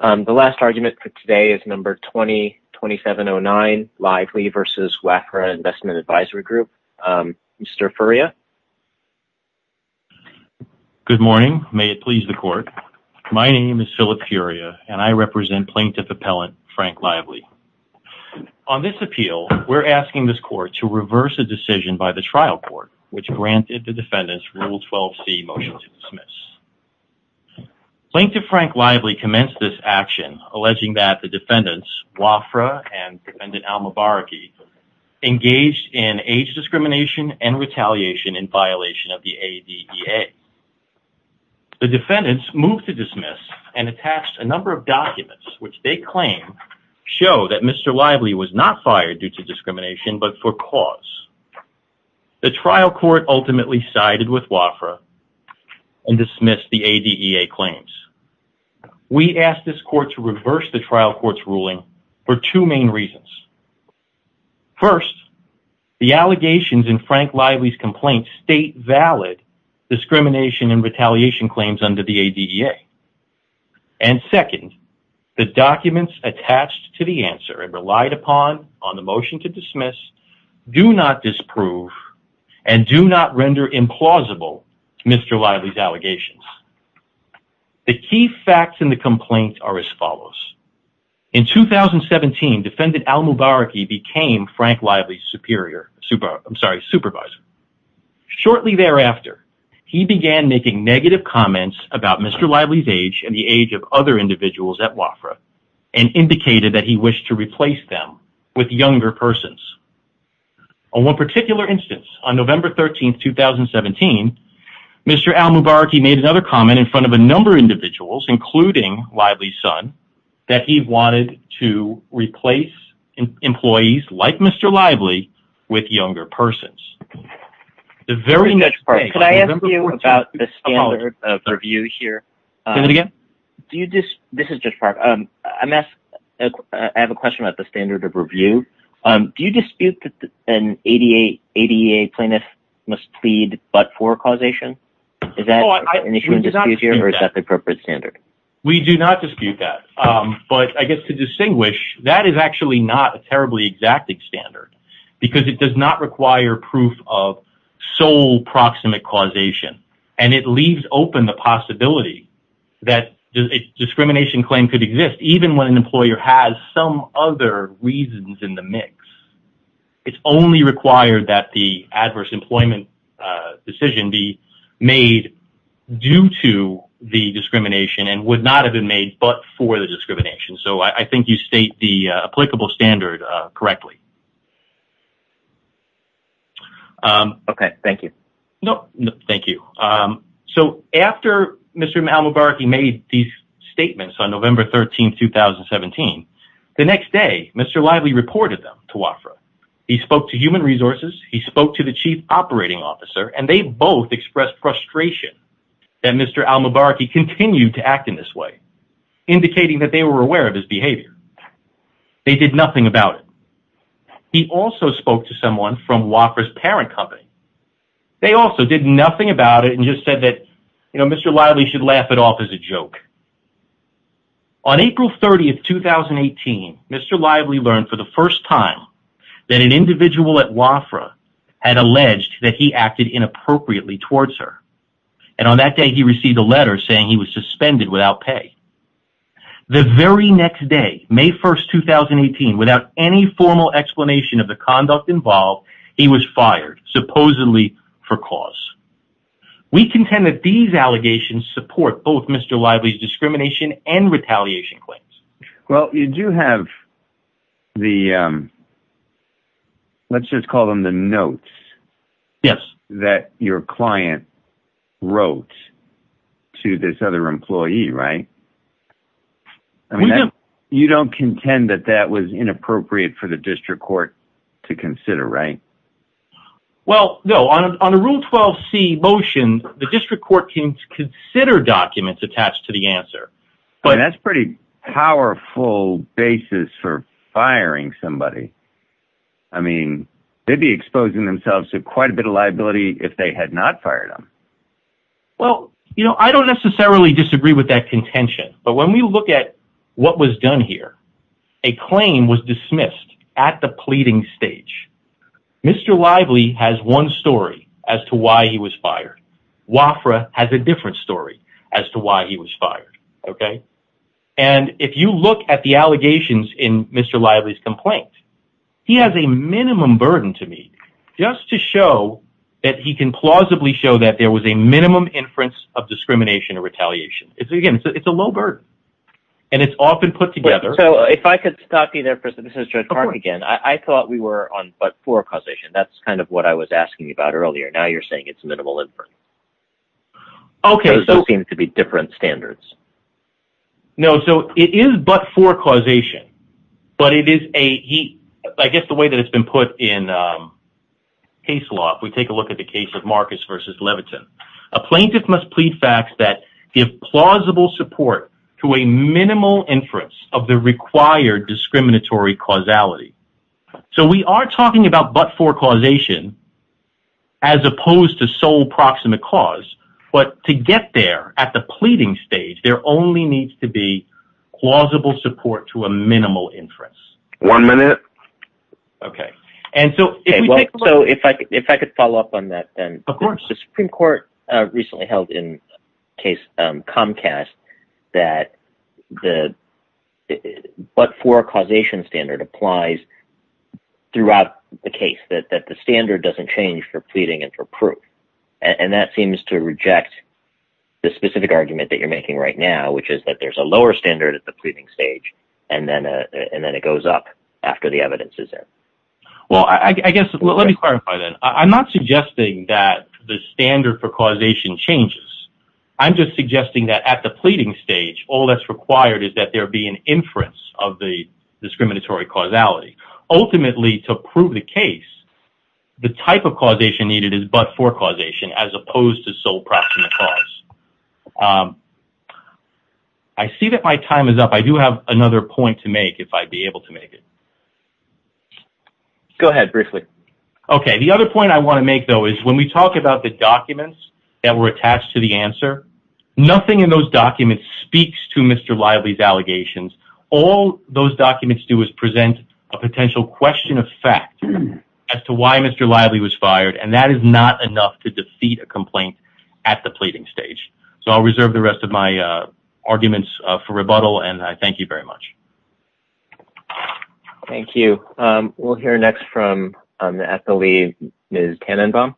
The last argument for today is No. 20-2709, Lively v. WAFRA Investment Advisory Group. Mr. Furria? Good morning. May it please the Court. My name is Philip Furria, and I represent Plaintiff Appellant Frank Lively. On this appeal, we're asking this Court to reverse a decision by the trial court which granted the defendant's Rule 12c motion to dismiss. Plaintiff Frank Lively commenced this action alleging that the defendants, WAFRA and Defendant Alma Baraki, engaged in age discrimination and retaliation in violation of the ADEA. The defendants moved to dismiss and attached a number of documents which they claim show that Mr. Lively was not fired due to discrimination but for cause. The trial court ultimately sided with WAFRA and dismissed the ADEA claims. We ask this Court to reverse the trial court's ruling for two main reasons. First, the allegations in Frank Lively's complaint state valid discrimination and retaliation claims under the ADEA. And second, the documents attached to the answer and relied upon on the motion to dismiss do not disprove and do not render implausible Mr. Lively's allegations. The key facts in the complaint are as follows. In 2017, Defendant Alma Baraki became Frank Lively's supervisor. Shortly thereafter, he began making negative comments about Mr. Lively's age and the age of other individuals at WAFRA and indicated that he wished to replace them with younger persons. On one particular instance, on November 13th, 2017, Mr. Alma Baraki made another comment in front of a number of individuals, including Lively's son, that he wanted to replace employees like Mr. Lively with younger persons. The very next day, on November 14th, 2017, Mr. Lively's son, Mr. Al Mubaraki, made another comment. Do you dispute that an ADEA plaintiff must plead but for causation? Is that an issue in dispute here, or is that the appropriate standard? We do not dispute that, but I guess to distinguish, that is actually not a terribly exacting standard because it does not require proof of sole proximate causation. And it leaves open the possibility that a discrimination claim could exist, even when an employer has some other reasons in the mix. It's only required that the adverse employment decision be made due to the discrimination and would not have been made but for the discrimination, so I think you state the applicable standard correctly. Okay. Thank you. No. No. Thank you. So after Mr. Al Mubaraki made these statements on November 13th, 2017, the next day, Mr. Lively reported them to WAFRA. He spoke to human resources, he spoke to the chief operating officer, and they both expressed frustration that Mr. Al Mubaraki continued to act in this way, indicating that they were aware of his behavior. They did nothing about it. He also spoke to someone from WAFRA's parent company. They also did nothing about it and just said that, you know, Mr. Lively should laugh it off as a joke. On April 30th, 2018, Mr. Lively learned for the first time that an individual at WAFRA had alleged that he acted inappropriately towards her. And on that day, he received a letter saying he was suspended without pay. The very next day, May 1st, 2018, without any formal explanation of the conduct involved, he was fired, supposedly for cause. We contend that these allegations support both Mr. Lively's discrimination and retaliation claims. Well, you do have the, let's just call them the notes that your client wrote to this other employee, right? I mean, you don't contend that that was inappropriate for the district court to consider, right? Well, no, on a Rule 12c motion, the district court can consider documents attached to the answer. But that's pretty powerful basis for firing somebody. I mean, they'd be exposing themselves to quite a bit of liability if they had not fired him. Well, you know, I don't necessarily disagree with that contention, but when we look at what was done here, a claim was dismissed at the pleading stage. Mr. Lively has one story as to why he was fired. WAFRA has a different story as to why he was fired. And if you look at the allegations in Mr. Lively's complaint, he has a minimum burden to me just to show that he can plausibly show that there was a minimum inference of discrimination or retaliation. It's again, it's a low burden and it's often put together. So if I could stop you there for a second, this is Judge Mark again. I thought we were on but for causation. That's kind of what I was asking you about earlier. Now you're saying it's minimal inference. Okay. So it seems to be different standards. No. So it is but for causation, but it is a, he, I guess the way that it's been put in case law, if we take a look at the case of Marcus versus Leviton, a plaintiff must plead facts that give plausible support to a minimal inference of the required discriminatory causality. So we are talking about but for causation as opposed to sole proximate cause. But to get there at the pleading stage, there only needs to be plausible support to a minimal inference. One minute. Okay. And so if I could follow up on that, then the Supreme Court recently held in case Comcast that the but for causation standard applies throughout the case, that the standard doesn't change for pleading and for proof. And that seems to reject the specific argument that you're making right now, which is that there's a lower standard at the pleading stage and then it goes up after the evidence is there. Well, I guess, let me clarify that. I'm not suggesting that the standard for causation changes. I'm just suggesting that at the pleading stage, all that's required is that there be an inference of the discriminatory causality. Ultimately, to prove the case, the type of causation needed is but for causation as opposed to sole proximate cause. I see that my time is up. I do have another point to make if I'd be able to make it. Go ahead, Brickley. Okay. The other point I want to make, though, is when we talk about the documents that were attached to the answer, nothing in those documents speaks to Mr. Lively's allegations. All those documents do is present a potential question of fact as to why Mr. Lively was fired and that is not enough to defeat a complaint at the pleading stage. So I'll reserve the rest of my arguments for rebuttal and I thank you very much. Thank you. We'll hear next from, at the lead, Ms. Tannenbaum.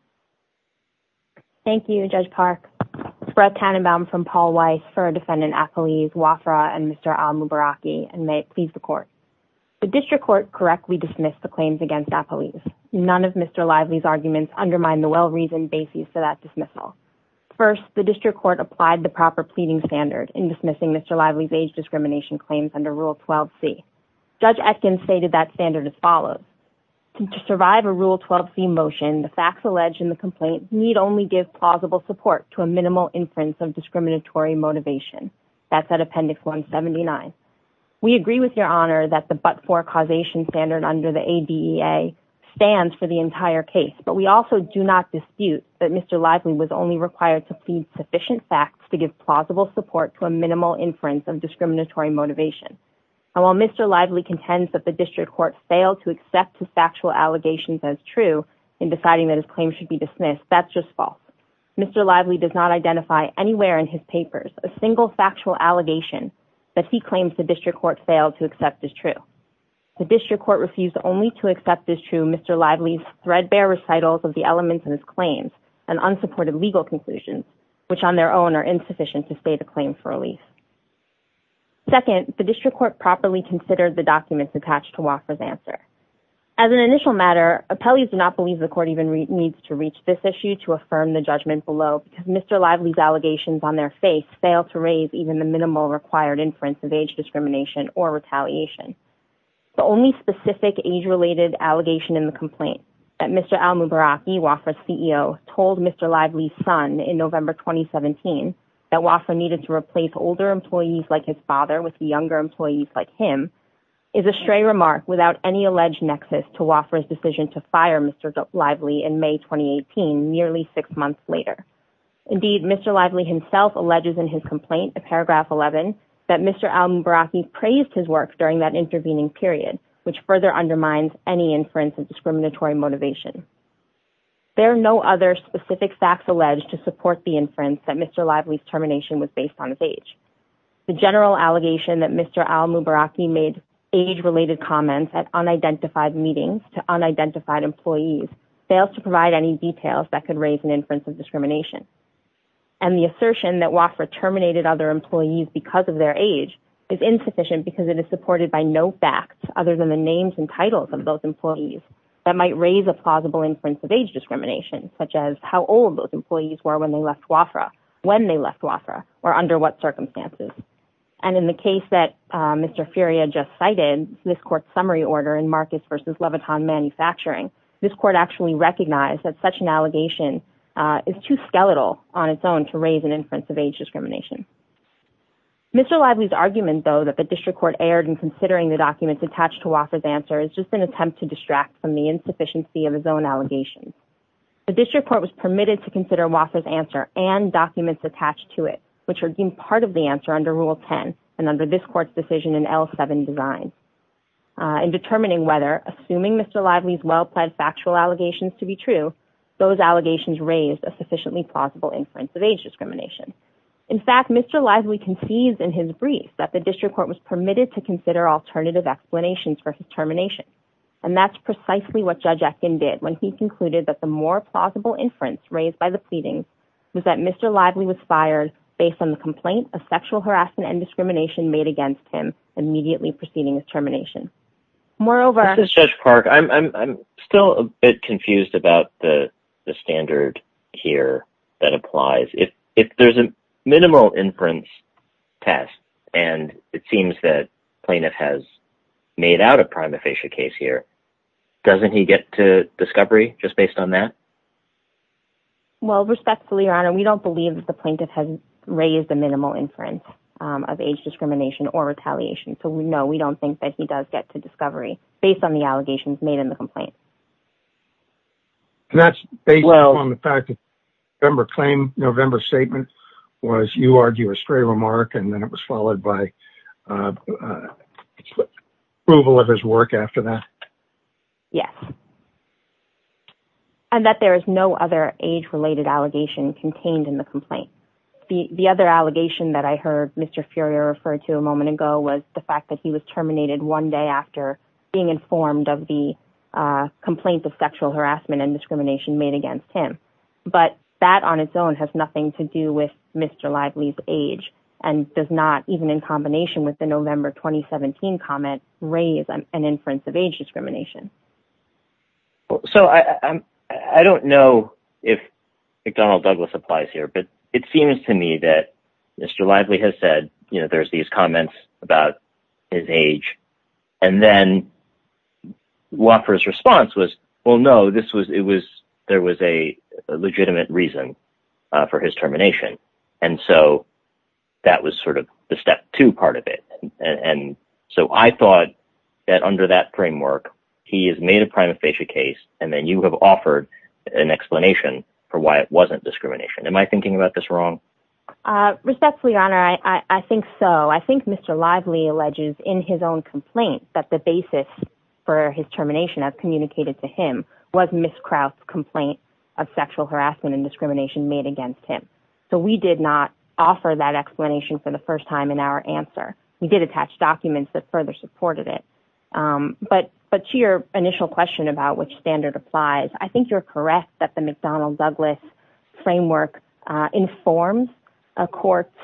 Thank you, Judge Park. This is Brett Tannenbaum from Paul Weiss for Defendant Apeliz, Wafra, and Mr. Al Mubaraki and may it please the Court. The District Court correctly dismissed the claims against Apeliz. None of Mr. Lively's arguments undermine the well-reasoned basis for that dismissal. First, the District Court applied the proper pleading standard in dismissing Mr. Lively's age discrimination claims under Rule 12c. Judge Etkins stated that standard as follows. To survive a Rule 12c motion, the facts alleged in the complaint need only give plausible support to a minimal inference of discriminatory motivation. That's at Appendix 179. We agree with your Honor that the but-for causation standard under the ADEA stands for the entire case, but we also do not dispute that Mr. Lively was only required to plead sufficient facts to give plausible support to a minimal inference of discriminatory motivation. And while Mr. Lively contends that the District Court failed to accept his factual allegations as true in deciding that his claim should be dismissed, that's just false. Mr. Lively does not identify anywhere in his papers a single factual allegation that he claims the District Court failed to accept as true. The District Court refused only to accept as true Mr. Lively's threadbare recitals of the elements in his claims and unsupported legal conclusions, which on their own are insufficient to state a claim for relief. Second, the District Court properly considered the documents attached to Walker's answer. As an initial matter, Apeliz did not believe the Court even needs to reach this issue to judgment below because Mr. Lively's allegations on their face fail to raise even the minimal required inference of age discrimination or retaliation. The only specific age-related allegation in the complaint that Mr. Al Mubaraki, Wofford's CEO, told Mr. Lively's son in November 2017 that Wofford needed to replace older employees like his father with younger employees like him, is a stray remark without any alleged nexus to Wofford's decision to fire Mr. Lively in May 2018, nearly six months later. Indeed, Mr. Lively himself alleges in his complaint, in paragraph 11, that Mr. Al Mubaraki praised his work during that intervening period, which further undermines any inference of discriminatory motivation. There are no other specific facts alleged to support the inference that Mr. Lively's termination was based on his age. The general allegation that Mr. Al Mubaraki made age-related comments at unidentified meetings to unidentified employees fails to provide any details that could raise an inference of discrimination. And the assertion that Wofford terminated other employees because of their age is insufficient because it is supported by no facts other than the names and titles of those employees that might raise a plausible inference of age discrimination, such as how old those And in the case that Mr. Furia just cited, this court's summary order in Marcus v. Leviton Manufacturing, this court actually recognized that such an allegation is too skeletal on its own to raise an inference of age discrimination. Mr. Lively's argument, though, that the district court erred in considering the documents attached to Wofford's answer is just an attempt to distract from the insufficiency of his own allegations. The district court was permitted to consider Wofford's answer and documents attached to it, which are part of the answer under Rule 10 and under this court's decision in L7 design. In determining whether, assuming Mr. Lively's well-plaid factual allegations to be true, those allegations raised a sufficiently plausible inference of age discrimination. In fact, Mr. Lively concedes in his brief that the district court was permitted to consider alternative explanations for his termination. And that's precisely what Judge Etkin did when he concluded that the more plausible inference raised by the pleading was that Mr. Lively was fired based on the complaint of sexual harassment and discrimination made against him immediately preceding his termination. Moreover... This is Judge Park. I'm still a bit confused about the standard here that applies. If there's a minimal inference test, and it seems that plaintiff has made out a prima facie case here, doesn't he get to discovery just based on that? Well, respectfully, Your Honor, we don't believe that the plaintiff has raised a minimal inference of age discrimination or retaliation, so no, we don't think that he does get to discovery based on the allegations made in the complaint. That's based on the fact that November's statement was, you argue, a stray remark, and then it Yes. And that there is no other age-related allegation contained in the complaint. The other allegation that I heard Mr. Furrier refer to a moment ago was the fact that he was terminated one day after being informed of the complaints of sexual harassment and discrimination made against him. But that on its own has nothing to do with Mr. Lively's age, and does not, even in combination with the November 2017 comment, raise an inference of age discrimination. So I don't know if McDonnell Douglas applies here, but it seems to me that Mr. Lively has said, you know, there's these comments about his age, and then Woffer's response was, well, no, there was a legitimate reason for his termination, and so that was sort of the step two part of it. And so I thought that under that framework, he has made a prima facie case, and then you have offered an explanation for why it wasn't discrimination. Am I thinking about this wrong? Respectfully, Your Honor, I think so. I think Mr. Lively alleges in his own complaint that the basis for his termination, as communicated to him, was Ms. Kraut's complaint of sexual harassment and discrimination made against him. So we did not offer that explanation for the first time in our answer. We did attach documents that further supported it. But to your initial question about which standard applies, I think you're correct that the McDonnell Douglas framework informs a court's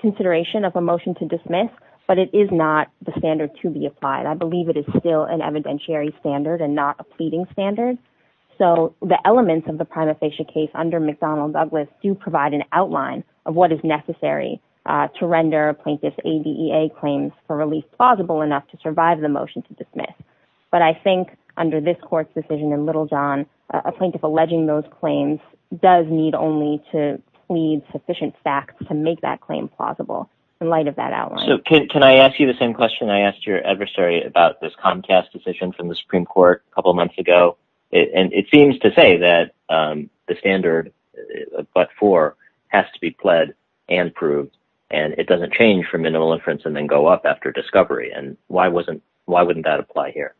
consideration of a motion to dismiss, but it is not the standard to be applied. I believe it is still an evidentiary standard and not a pleading standard. So the elements of the prima facie case under McDonnell Douglas do provide an outline of what is necessary to render a plaintiff's ADEA claims for release plausible enough to survive the motion to dismiss. But I think under this court's decision in Littlejohn, a plaintiff alleging those claims does need only to plead sufficient facts to make that claim plausible in light of that outline. Can I ask you the same question I asked your adversary about this Comcast decision from the Supreme Court a couple of months ago, and it seems to say that the standard but for has to be pled and proved, and it doesn't change for minimal inference and then go up after discovery. And why wouldn't that apply here?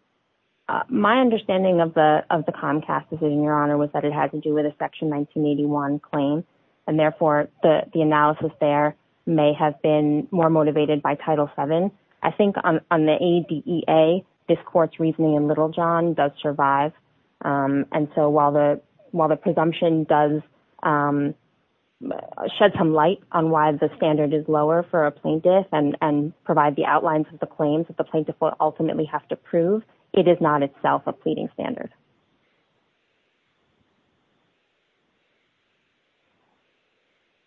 My understanding of the Comcast decision, Your Honor, was that it had to do with a Section 1981 claim, and therefore the analysis there may have been more motivated by Title VII. I think on the ADEA, this court's reasoning in Littlejohn does survive, and so while the presumption does shed some light on why the standard is lower for a plaintiff and provide the outlines of the claims that the plaintiff will ultimately have to prove, it is not itself a pleading standard.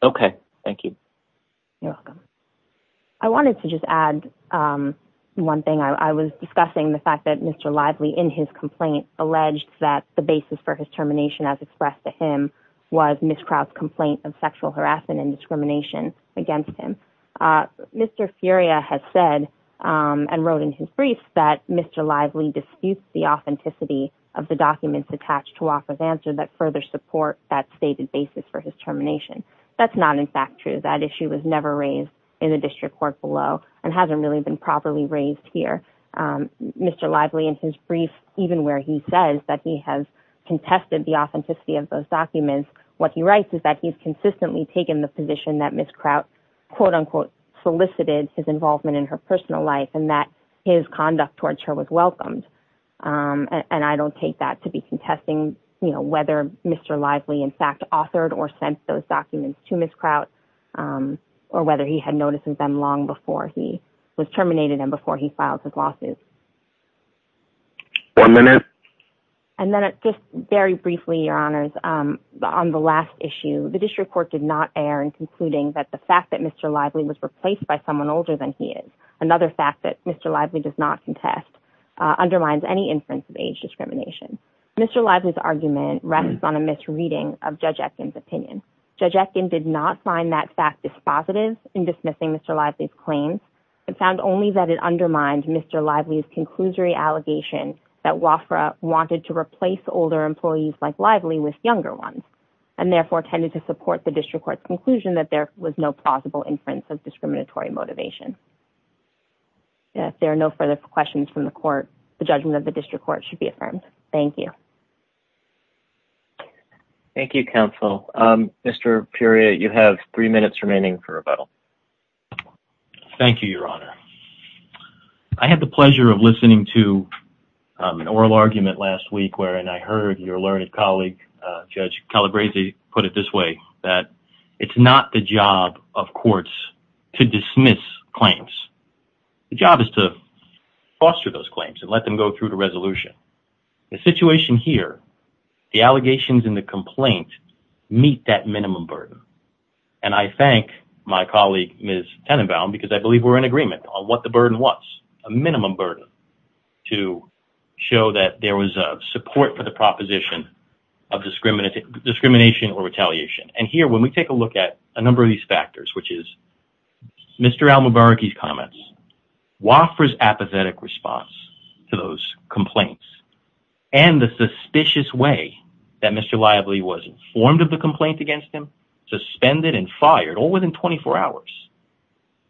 Okay. Thank you. You're welcome. I wanted to just add one thing. I was discussing the fact that Mr. Lively, in his complaint, alleged that the basis for his termination, as expressed to him, was Ms. Kraut's complaint of sexual harassment and discrimination against him. Mr. Furia has said and wrote in his brief that Mr. Lively disputes the authenticity of the documents attached to Walker's answer that further support that stated basis for his termination. That's not, in fact, true. That issue was never raised in the district court below and hasn't really been properly raised here. Mr. Lively, in his brief, even where he says that he has contested the authenticity of those documents, what he writes is that he's consistently taken the position that Ms. Kraut solicited his involvement in her personal life and that his conduct towards her was welcomed, and I don't take that to be contesting whether Mr. Lively, in fact, authored or sent those documents to Ms. Kraut. Or whether he had noticed them long before he was terminated and before he filed his lawsuit. One minute. And then, just very briefly, Your Honors, on the last issue, the district court did not err in concluding that the fact that Mr. Lively was replaced by someone older than he is, another fact that Mr. Lively does not contest, undermines any inference of age discrimination. Mr. Lively's argument rests on a misreading of Judge Etkin's opinion. Judge Etkin did not find that fact dispositive in dismissing Mr. Lively's claim and found only that it undermined Mr. Lively's conclusory allegation that WAFRA wanted to replace older employees like Lively with younger ones, and therefore tended to support the district court's conclusion that there was no plausible inference of discriminatory motivation. If there are no further questions from the court, the judgment of the district court should be affirmed. Thank you. Thank you, counsel. Mr. Puria, you have three minutes remaining for rebuttal. Thank you, Your Honor. I had the pleasure of listening to an oral argument last week wherein I heard your learned colleague, Judge Calabresi, put it this way, that it's not the job of courts to dismiss claims. The job is to foster those claims and let them go through to resolution. The situation here, the allegations in the complaint meet that minimum burden, and I thank my colleague, Ms. Tenenbaum, because I believe we're in agreement on what the burden was, a minimum burden, to show that there was support for the proposition of discrimination or retaliation. And here, when we take a look at a number of these factors, which is Mr. Al-Mubaraki's apathetic response to those complaints and the suspicious way that Mr. Lively was informed of the complaint against him, suspended and fired all within 24 hours.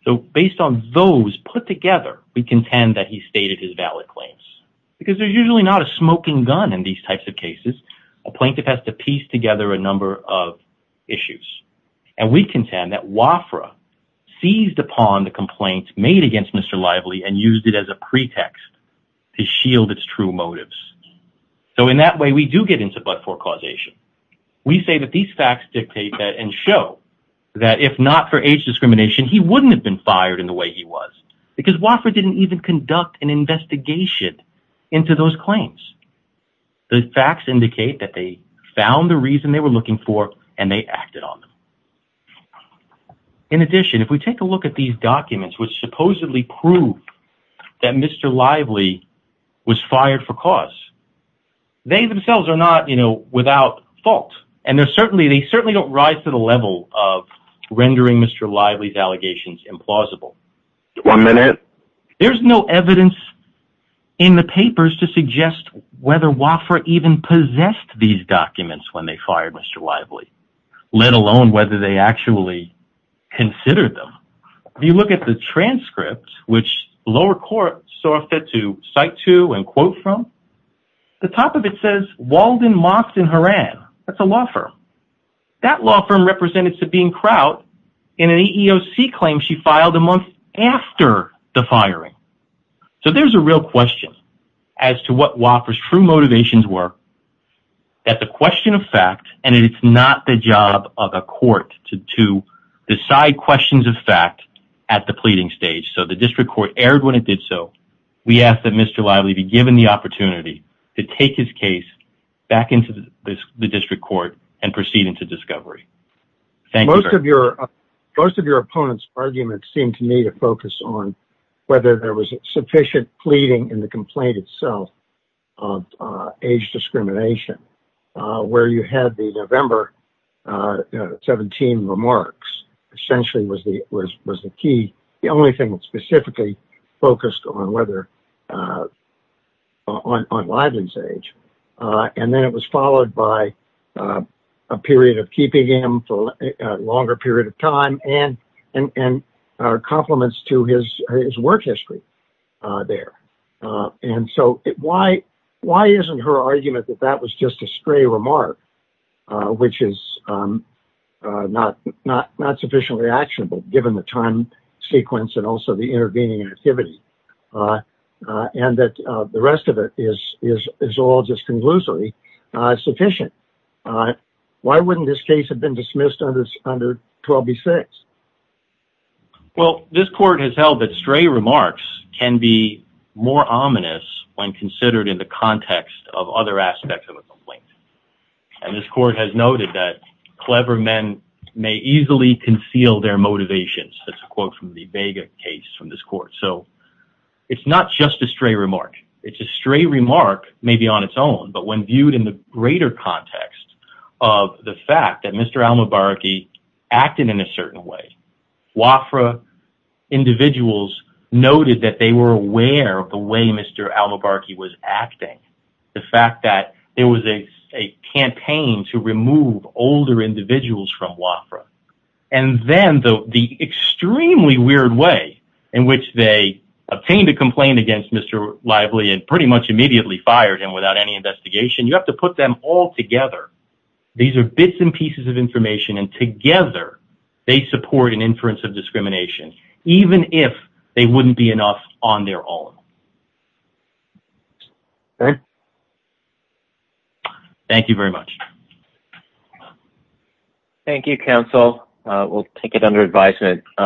So based on those put together, we contend that he stated his valid claims because there's usually not a smoking gun in these types of cases. A plaintiff has to piece together a number of issues, and we contend that WAFRA seized it as a pretext to shield its true motives. So in that way, we do get into but-for causation. We say that these facts dictate that and show that if not for age discrimination, he wouldn't have been fired in the way he was because WAFRA didn't even conduct an investigation into those claims. The facts indicate that they found the reason they were looking for and they acted on them. In addition, if we take a look at these documents, which supposedly prove that Mr. Lively was fired for cause, they themselves are not, you know, without fault. And they certainly don't rise to the level of rendering Mr. Lively's allegations implausible. One minute. There's no evidence in the papers to suggest whether WAFRA even possessed these documents when they fired Mr. Lively, let alone whether they actually considered them. If you look at the transcript, which the lower court sought to cite to and quote from, the top of it says Walden, Moffett, and Horan. That's a law firm. That law firm represented Sabine Kraut in an EEOC claim she filed a month after the firing. So there's a real question as to what WAFRA's true motivations were, that the question of fact, and it's not the job of a court to decide questions of fact at the pleading stage. So the district court erred when it did so. We ask that Mr. Lively be given the opportunity to take his case back into the district court and proceed into discovery. Thank you. Most of your opponent's arguments seem to me to focus on whether there was sufficient pleading in the complaint itself of age discrimination, where you had the November 17 remarks essentially was the key. The only thing that specifically focused on Lively's age. And then it was followed by a period of keeping him for a longer period of time and our compliments to his, his work history there. And so why, why isn't her argument that that was just a stray remark which is not, not, not sufficiently actionable given the time sequence and also the intervening activity and that the rest of it is, is, is all just conclusively sufficient. Why wouldn't this case have been dismissed under 12B6? Well, this court has held that stray remarks can be more ominous when considered in the context of other aspects of a complaint. And this court has noted that clever men may easily conceal their motivations. That's a quote from the Vega case from this court. So it's not just a stray remark. It's a stray remark, maybe on its own, but when viewed in the greater context of the Wafra individuals noted that they were aware of the way Mr. Al-Mubaraki was acting. The fact that there was a, a campaign to remove older individuals from Wafra. And then the, the extremely weird way in which they obtained a complaint against Mr. Lively and pretty much immediately fired him without any investigation. You have to put them all together. These are bits and pieces of information and together they support an inference of discrimination, even if they wouldn't be enough on their own. Thank you very much. Thank you, counsel. We'll take it under advisement.